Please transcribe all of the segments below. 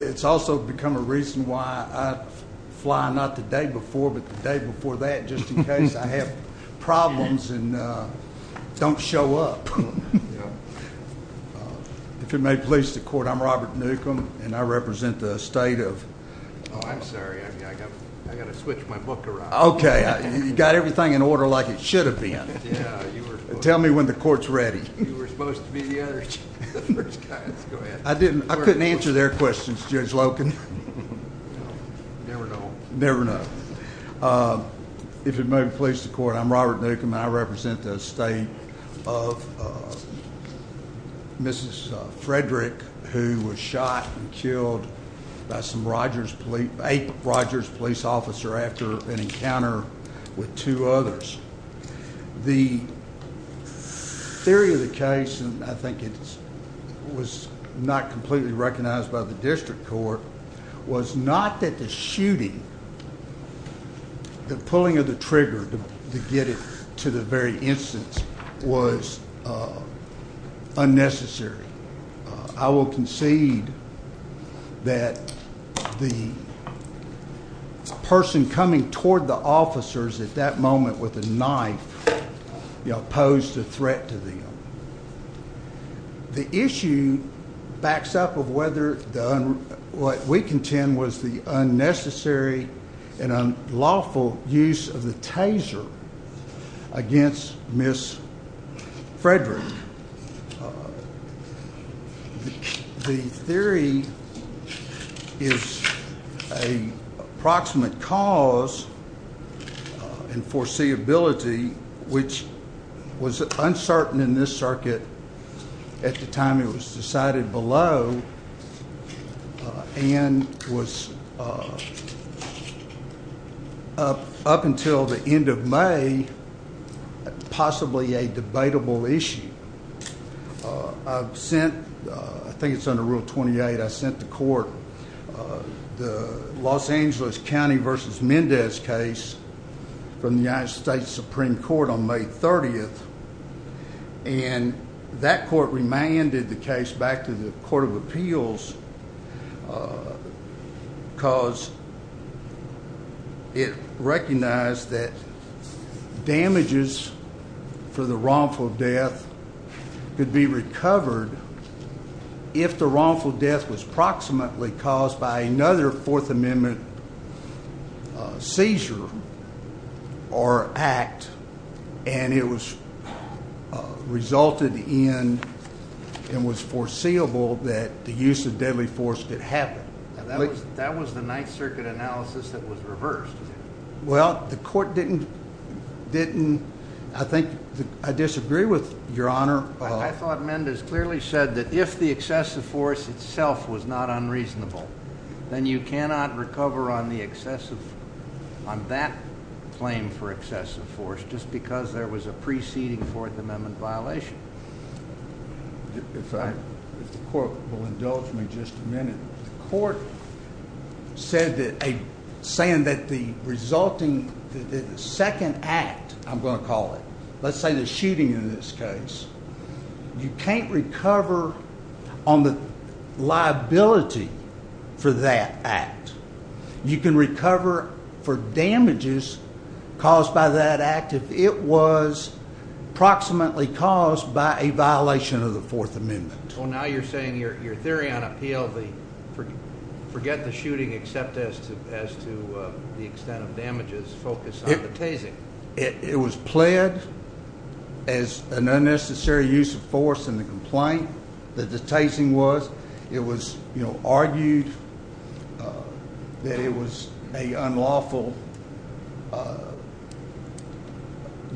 It's also become a reason why I fly, not the day before, but the day before that, just in case I have problems and don't show up. If it may please the court, I'm Robert Newcomb, and I represent the state of... Oh, I'm sorry, I've got to switch my book around. Okay, you've got everything in order like it should have been. Tell me when the court's ready. You were supposed to be the other guy. I couldn't answer their questions, Judge Loken. Never know. Never know. If it may please the court, I'm Robert Newcomb, and I represent the state of Mrs. Frederick, who was shot and killed by a Rogers police officer after an encounter with two others. The theory of the case, and I think it was not completely recognized by the district court, was not that the shooting, the pulling of the trigger to get it to the very instance, was unnecessary. I will concede that the person coming toward the officers at that moment with a knife posed a threat to them. The issue backs up of whether what we contend was the unnecessary and unlawful use of the taser against Mrs. Frederick. The theory is a proximate cause and foreseeability, which was uncertain in this circuit at the time it was decided below and was, up until the end of May, possibly a debatable issue. I've sent, I think it's under Rule 28, I sent the court the Los Angeles County v. Mendez case from the United States Supreme Court on May 30th, and that court remanded the case back to the Court of Appeals, because it recognized that damages for the wrongful death could be recovered if the wrongful death was proximately caused by another Fourth Amendment seizure or act, and it resulted in and was foreseeable that the use of deadly force did happen. That was the Ninth Circuit analysis that was reversed. Well, the court didn't, I think, I disagree with Your Honor. I thought Mendez clearly said that if the excessive force itself was not unreasonable, then you cannot recover on the excessive, on that claim for excessive force, just because there was a preceding Fourth Amendment violation. If I, if the court will indulge me just a minute. The court said that, saying that the resulting, the second act, I'm going to call it, let's say the shooting in this case, you can't recover on the liability for that act. You can recover for damages caused by that act if it was proximately caused by a violation of the Fourth Amendment. Well, now you're saying your theory on appeal, forget the shooting, except as to the extent of damages, focus on the tasing. It was pled as an unnecessary use of force in the complaint that the tasing was. It was, you know, argued that it was an unlawful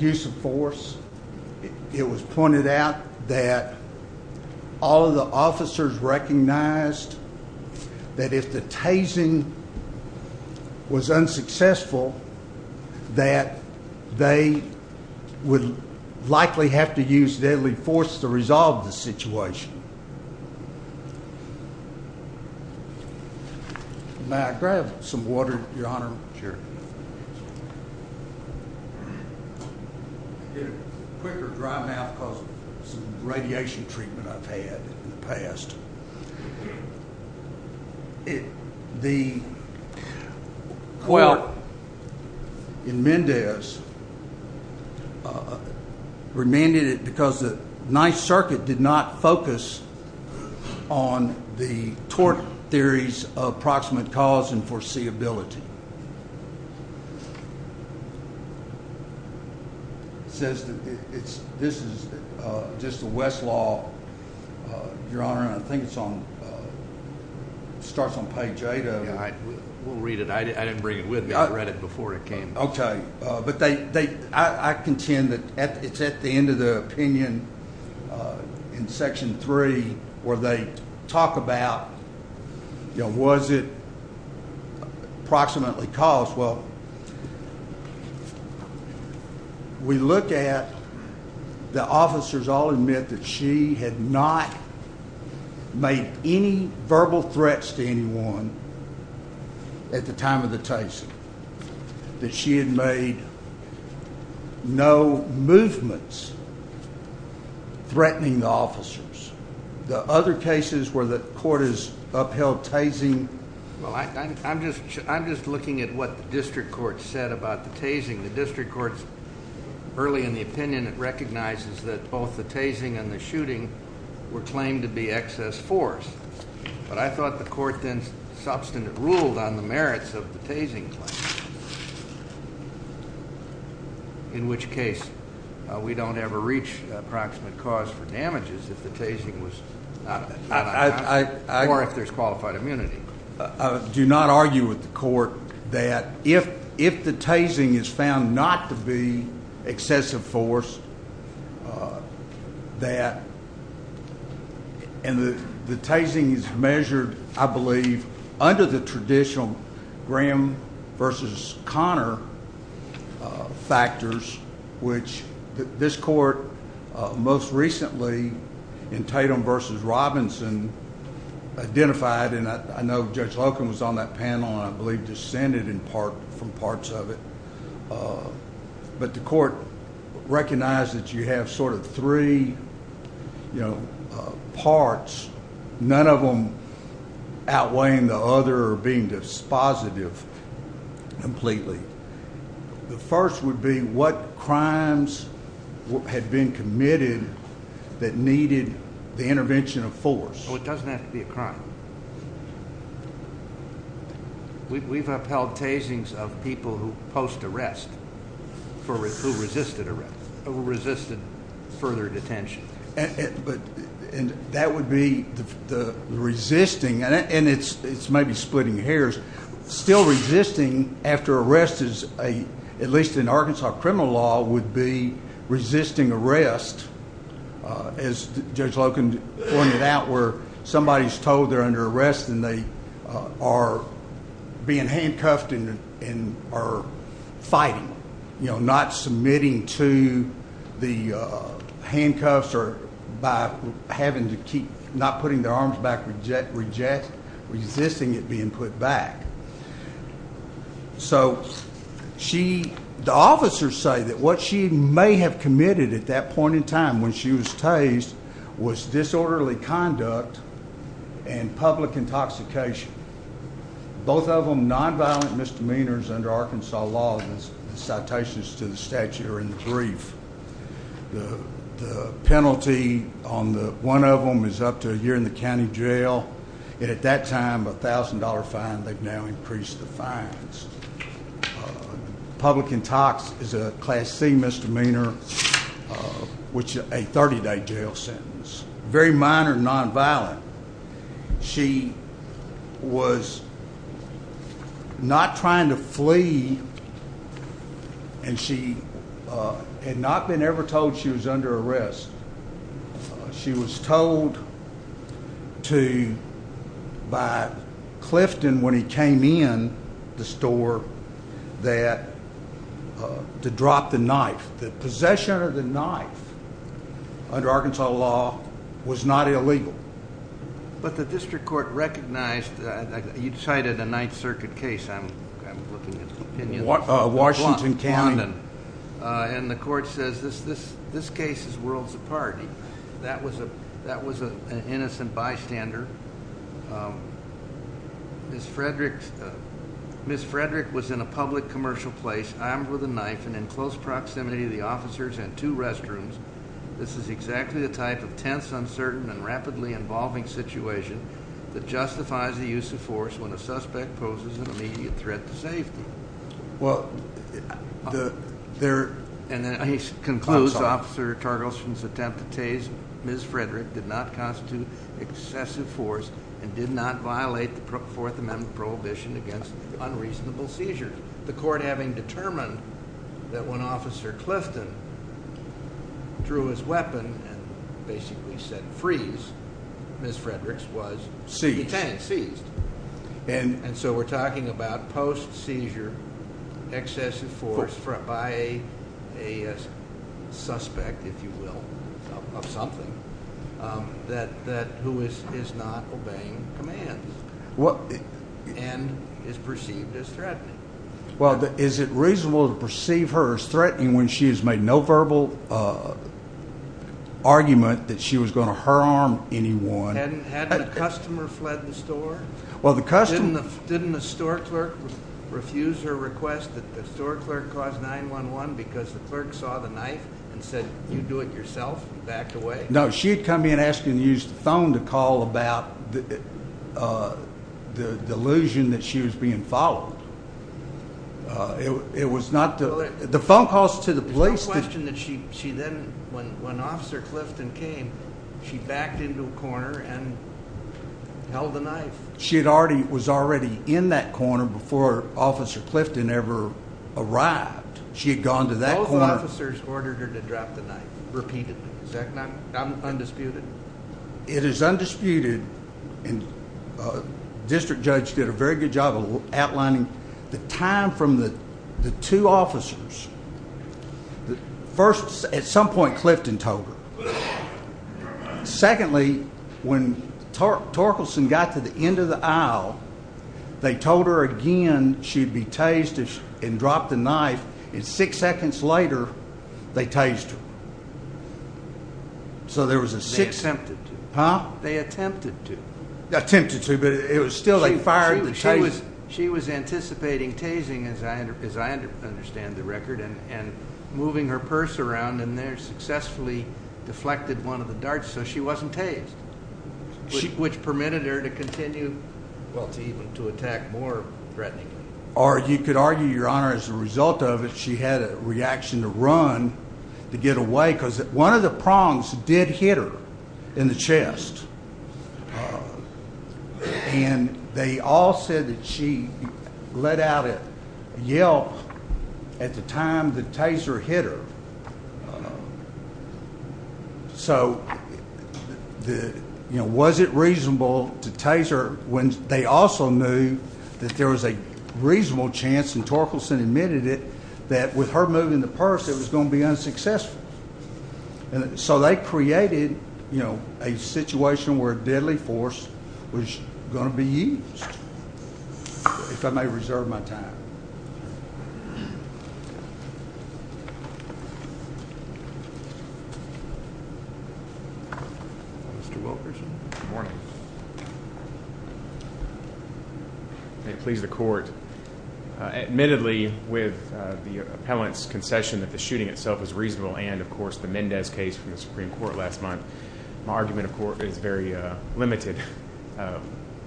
use of force. It was pointed out that all of the officers recognized that if the tasing was unsuccessful, that they would likely have to use deadly force to resolve the situation. May I grab some water, Your Honor? Sure. I get a quicker dry mouth because of some radiation treatment I've had in the past. The court in Mendez remanded it because the Ninth Circuit did not focus on the tort theories of proximate cause and foreseeability. It says that this is just a Westlaw, Your Honor, and I think it starts on page 8 of it. We'll read it. I didn't bring it with me. I read it before it came. Okay. But I contend that it's at the end of the opinion in Section 3 where they talk about, you know, was it proximately caused? Well, we look at the officers all admit that she had not made any verbal threats to anyone at the time of the tasing, that she had made no movements threatening the officers. The other cases where the court has upheld tasing? Well, I'm just looking at what the district court said about the tasing. The district court, early in the opinion, it recognizes that both the tasing and the shooting were claimed to be excess force. But I thought the court then substantive ruled on the merits of the tasing claim, in which case we don't ever reach proximate cause for damages if the tasing was not. Or if there's qualified immunity. I do not argue with the court that if the tasing is found not to be excessive force, that the tasing is measured, I believe, under the traditional Graham v. Connor factors, which this court most recently, in Tatum v. Robinson, identified. And I know Judge Locum was on that panel and I believe descended from parts of it. But the court recognized that you have sort of three parts, none of them outweighing the other or being dispositive completely. The first would be what crimes had been committed that needed the intervention of force. Well, it doesn't have to be a crime. We've upheld tasings of people who post arrest, who resisted further detention. And that would be the resisting, and it's maybe splitting hairs. Still resisting after arrest is a, at least in Arkansas criminal law, would be resisting arrest. As Judge Locum pointed out where somebody's told they're under arrest and they are being handcuffed and are fighting. You know, not submitting to the handcuffs or by having to keep, not putting their arms back, resisting it being put back. So she, the officers say that what she may have committed at that point in time when she was tased was disorderly conduct and public intoxication. Both of them nonviolent misdemeanors under Arkansas law. The citations to the statute are in the brief. The penalty on the one of them is up to a year in the county jail. And at that time, a $1,000 fine. They've now increased the fines. Public intox is a Class C misdemeanor, which is a 30-day jail sentence. Very minor nonviolent. She was not trying to flee, and she had not been ever told she was under arrest. She was told to, by Clifton when he came in the store, that, to drop the knife. The possession of the knife under Arkansas law was not illegal. But the district court recognized, you cited a Ninth Circuit case, I'm looking at opinions. Washington County. And the court says this case is worlds apart. That was an innocent bystander. Ms. Frederick was in a public commercial place armed with a knife and in close proximity to the officers and two restrooms. This is exactly the type of tense, uncertain, and rapidly involving situation that justifies the use of force when a suspect poses an immediate threat to safety. And then he concludes Officer Targelson's attempt to tase Ms. Frederick did not constitute excessive force. And did not violate the Fourth Amendment prohibition against unreasonable seizures. The court having determined that when Officer Clifton drew his weapon and basically said freeze, Ms. Frederick was detained, seized. And so we're talking about post-seizure excessive force by a suspect, if you will, of something, that who is not obeying commands and is perceived as threatening. Well, is it reasonable to perceive her as threatening when she has made no verbal argument that she was going to harm anyone? Had the customer fled the store? Didn't the store clerk refuse her request that the store clerk call 911 because the clerk saw the knife and said you do it yourself and backed away? No, she had come in asking to use the phone to call about the delusion that she was being followed. It was not the phone calls to the police. There's no question that she then, when Officer Clifton came, she backed into a corner and held the knife. She was already in that corner before Officer Clifton ever arrived. She had gone to that corner. All the officers ordered her to drop the knife repeatedly. Is that not undisputed? It is undisputed. And the district judge did a very good job of outlining the time from the two officers. First, at some point Clifton told her. Secondly, when Torkelson got to the end of the aisle, they told her again she'd be tased and drop the knife. And six seconds later, they tased her. They attempted to. They attempted to, but it was still like firing the tase. She was anticipating tasing, as I understand the record, and moving her purse around. And they successfully deflected one of the darts, so she wasn't tased, which permitted her to continue to attack more threateningly. You could argue, Your Honor, as a result of it, she had a reaction to run, to get away. Because one of the prongs did hit her in the chest. And they all said that she let out a yell at the time the taser hit her. So, you know, was it reasonable to tase her when they also knew that there was a reasonable chance, and Torkelson admitted it, that with her moving the purse, it was going to be unsuccessful. So they created a situation where deadly force was going to be used. If I may reserve my time. Mr. Wilkerson. Good morning. May it please the Court. Admittedly, with the appellant's concession that the shooting itself was reasonable, and, of course, the Mendez case from the Supreme Court last month, my argument, of course, is very limited.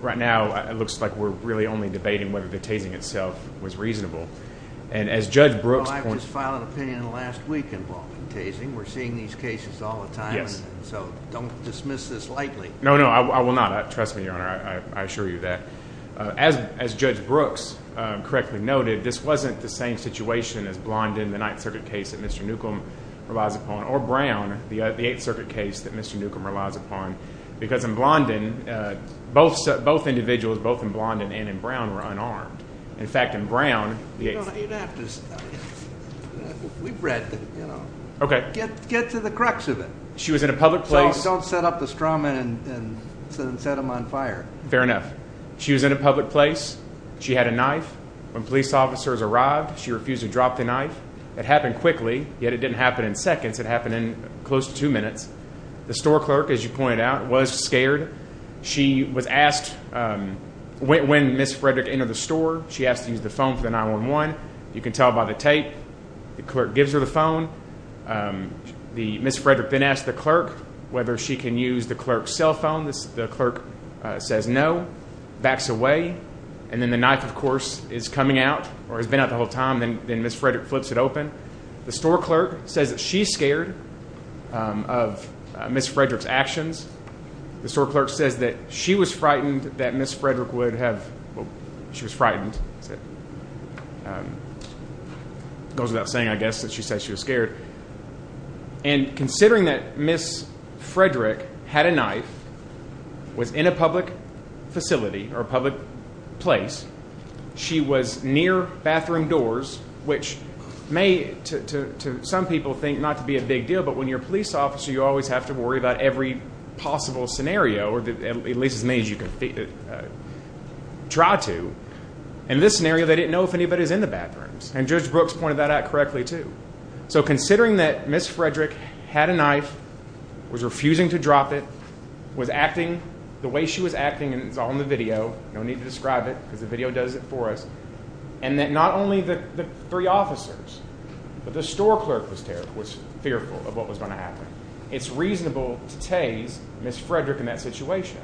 Right now, it looks like we're really only debating whether the tasing itself was reasonable. And as Judge Brooks pointed out. Well, I just filed an opinion last week involving tasing. We're seeing these cases all the time. Yes. So don't dismiss this lightly. No, no, I will not. Trust me, Your Honor, I assure you of that. As Judge Brooks correctly noted, this wasn't the same situation as Blondin, the Ninth Circuit case that Mr. Newcomb relies upon, or Brown, the Eighth Circuit case that Mr. Newcomb relies upon, because in Blondin, both individuals, both in Blondin and in Brown, were unarmed. In fact, in Brown, the Eighth. You'd have to. We've read, you know. Okay. Get to the crux of it. She was in a public place. Don't set up the straw men and set them on fire. Fair enough. She was in a public place. She had a knife. When police officers arrived, she refused to drop the knife. It happened quickly, yet it didn't happen in seconds. It happened in close to two minutes. The store clerk, as you pointed out, was scared. She was asked when Ms. Frederick entered the store, she asked to use the phone for the 911. You can tell by the tape. The clerk gives her the phone. Ms. Frederick then asks the clerk whether she can use the clerk's cell phone. The clerk says no, backs away, and then the knife, of course, is coming out or has been out the whole time. Then Ms. Frederick flips it open. The store clerk says that she's scared of Ms. Frederick's actions. The store clerk says that she was frightened that Ms. Frederick would have. She was frightened. That's it. It goes without saying, I guess, that she said she was scared. And considering that Ms. Frederick had a knife, was in a public facility or a public place, she was near bathroom doors, which may, to some people, think not to be a big deal, but when you're a police officer, you always have to worry about every possible scenario, or at least as many as you can try to. In this scenario, they didn't know if anybody was in the bathrooms. And Judge Brooks pointed that out correctly, too. So considering that Ms. Frederick had a knife, was refusing to drop it, was acting the way she was acting, and it's all in the video. No need to describe it because the video does it for us. And that not only the three officers, but the store clerk was fearful of what was going to happen. It's reasonable to tase Ms. Frederick in that situation.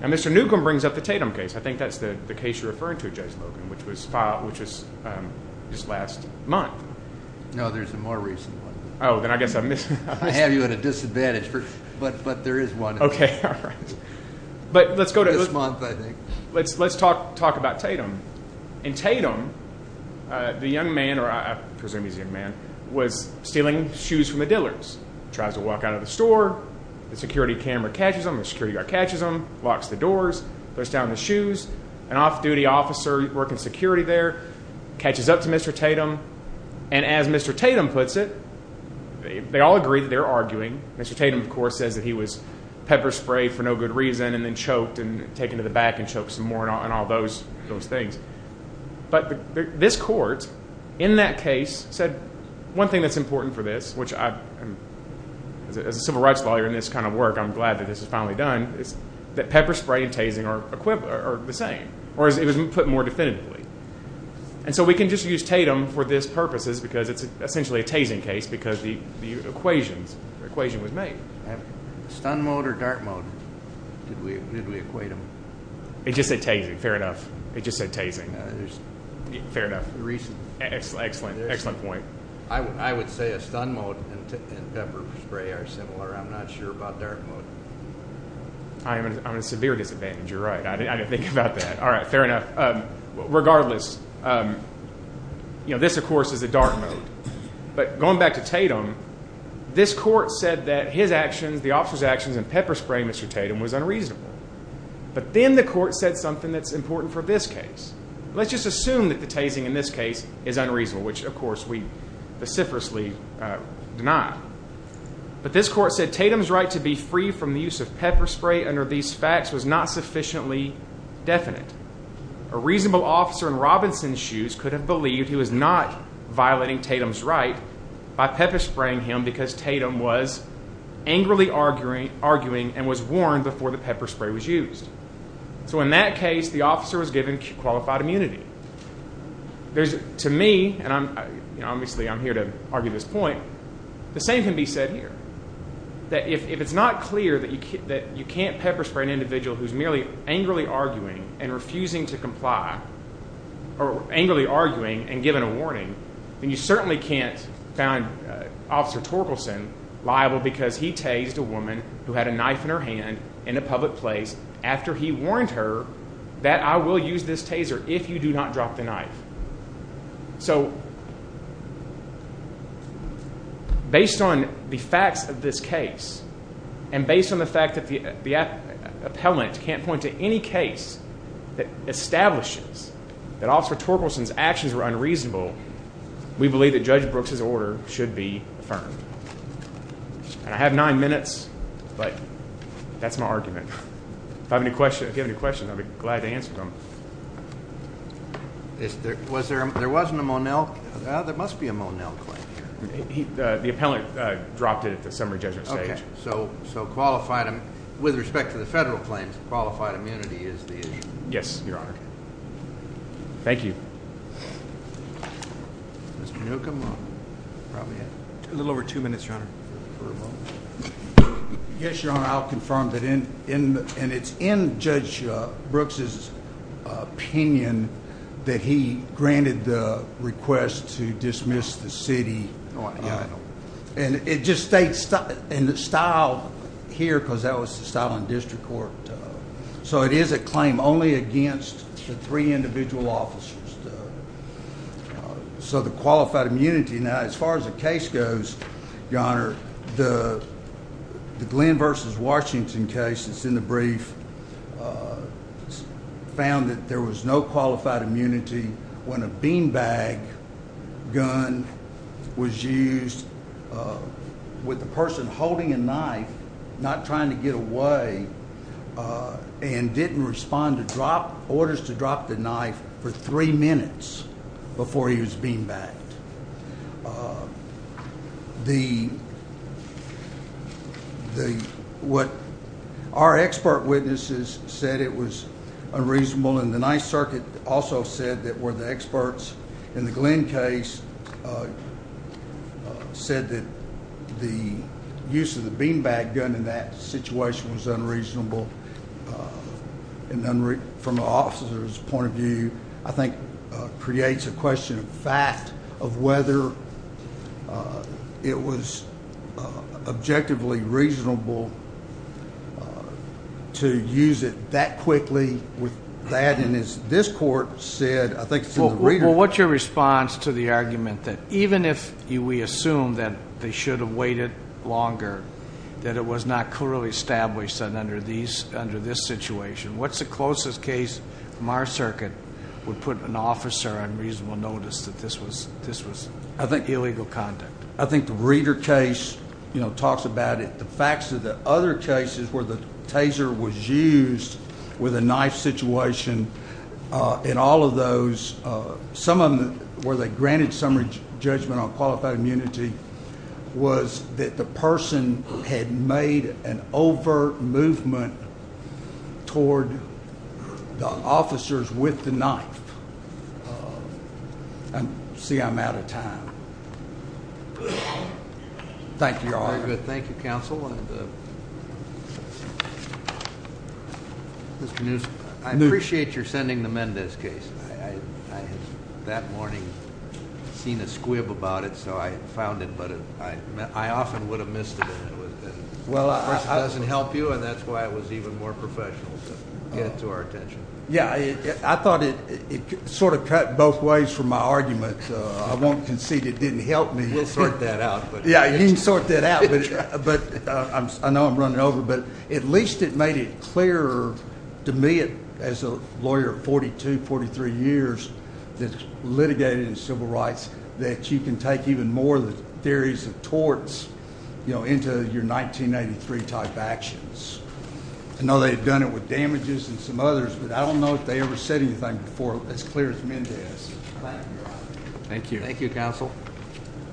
Now, Mr. Newcomb brings up the Tatum case. I think that's the case you're referring to, Judge Logan, which was just last month. No, there's a more recent one. Oh, then I guess I missed it. I have you at a disadvantage, but there is one. Okay, all right. This month, I think. Let's talk about Tatum. In Tatum, the young man, or I presume he's a young man, was stealing shoes from the dealers. Tries to walk out of the store. The security camera catches him. The security guard catches him, locks the doors, puts down the shoes. An off-duty officer working security there catches up to Mr. Tatum. And as Mr. Tatum puts it, they all agree that they're arguing. Mr. Tatum, of course, says that he was pepper-sprayed for no good reason and then choked and taken to the back and choked some more and all those things. But this court, in that case, said one thing that's important for this, which as a civil rights lawyer in this kind of work, I'm glad that this is finally done, is that pepper-spray and tasing are the same, or it was put more definitively. And so we can just use Tatum for this purposes because it's essentially a tasing case because the equation was made. Stun mode or dart mode? Did we equate them? It just said tasing. Fair enough. It just said tasing. Fair enough. Excellent. Excellent point. I would say a stun mode and pepper spray are similar. I'm not sure about dart mode. I'm at a severe disadvantage. You're right. I didn't think about that. All right. Fair enough. Regardless, this, of course, is a dart mode. But going back to Tatum, this court said that his actions, the officer's actions in pepper spray Mr. Tatum was unreasonable. But then the court said something that's important for this case. Let's just assume that the tasing in this case is unreasonable, which, of course, we vociferously deny. But this court said Tatum's right to be free from the use of pepper spray under these facts was not sufficiently definite. A reasonable officer in Robinson's shoes could have believed he was not violating Tatum's right by pepper spraying him because Tatum was angrily arguing and was warned before the pepper spray was used. So in that case, the officer was given qualified immunity. To me, and obviously I'm here to argue this point, the same can be said here, that if it's not clear that you can't pepper spray an individual who's angrily arguing and refusing to comply or angrily arguing and giving a warning, then you certainly can't find Officer Torkelson liable because he tased a woman who had a knife in her hand in a public place after he warned her that I will use this taser if you do not drop the knife. So based on the facts of this case and based on the fact that the appellant can't point to any case that establishes that Officer Torkelson's actions were unreasonable, we believe that Judge Brooks' order should be affirmed. And I have nine minutes, but that's my argument. If you have any questions, I'd be glad to answer them. There wasn't a Monell? There must be a Monell claim here. The appellant dropped it at the summary judgment stage. So with respect to the federal claims, qualified immunity is the issue? Yes, Your Honor. Thank you. Mr. Newcomb? A little over two minutes, Your Honor. Yes, Your Honor, I'll confirm that it's in Judge Brooks' opinion that he granted the request to dismiss the city. And it just states in the style here, because that was the style in district court, so it is a claim only against the three individual officers. So the qualified immunity, now as far as the case goes, Your Honor, the Glenn v. Washington case that's in the brief found that there was no qualified immunity when a beanbag gun was used with the person holding a knife, not trying to get away, and didn't respond to orders to drop the knife for three minutes before he was beanbagged. What our expert witnesses said, it was unreasonable, and the Ninth Circuit also said that where the experts in the Glenn case said that the use of the beanbag gun in that situation was unreasonable from an officer's point of view, I think creates a question of fact of whether it was objectively reasonable to use it that quickly with that. And as this court said, I think it's in the reader. Well, what's your response to the argument that even if we assume that they should have waited longer, that it was not clearly established under this situation? What's the closest case from our circuit would put an officer on reasonable notice that this was illegal conduct? I think the reader case talks about it. The facts of the other cases where the taser was used with a knife situation, in all of those, some of them where they granted summary judgment on qualified immunity, was that the person had made an overt movement toward the officers with the knife. See, I'm out of time. Thank you, Your Honor. Very good. Thank you, Counsel. Mr. Newsom, I appreciate your sending them in this case. I had that morning seen a squib about it, so I found it, but I often would have missed it. Well, it doesn't help you, and that's why it was even more professional to get to our attention. Yeah, I thought it sort of cut both ways from my argument. I won't concede it didn't help me. We'll sort that out. Yeah, you can sort that out, but I know I'm running over. But at least it made it clearer to me as a lawyer of 42, 43 years that's litigated in civil rights that you can take even more of the theories of torts into your 1983 type actions. I know they've done it with damages and some others, but I don't know if they ever said anything before as clear as Mendes. Thank you, Your Honor. Thank you. Thank you, Counsel.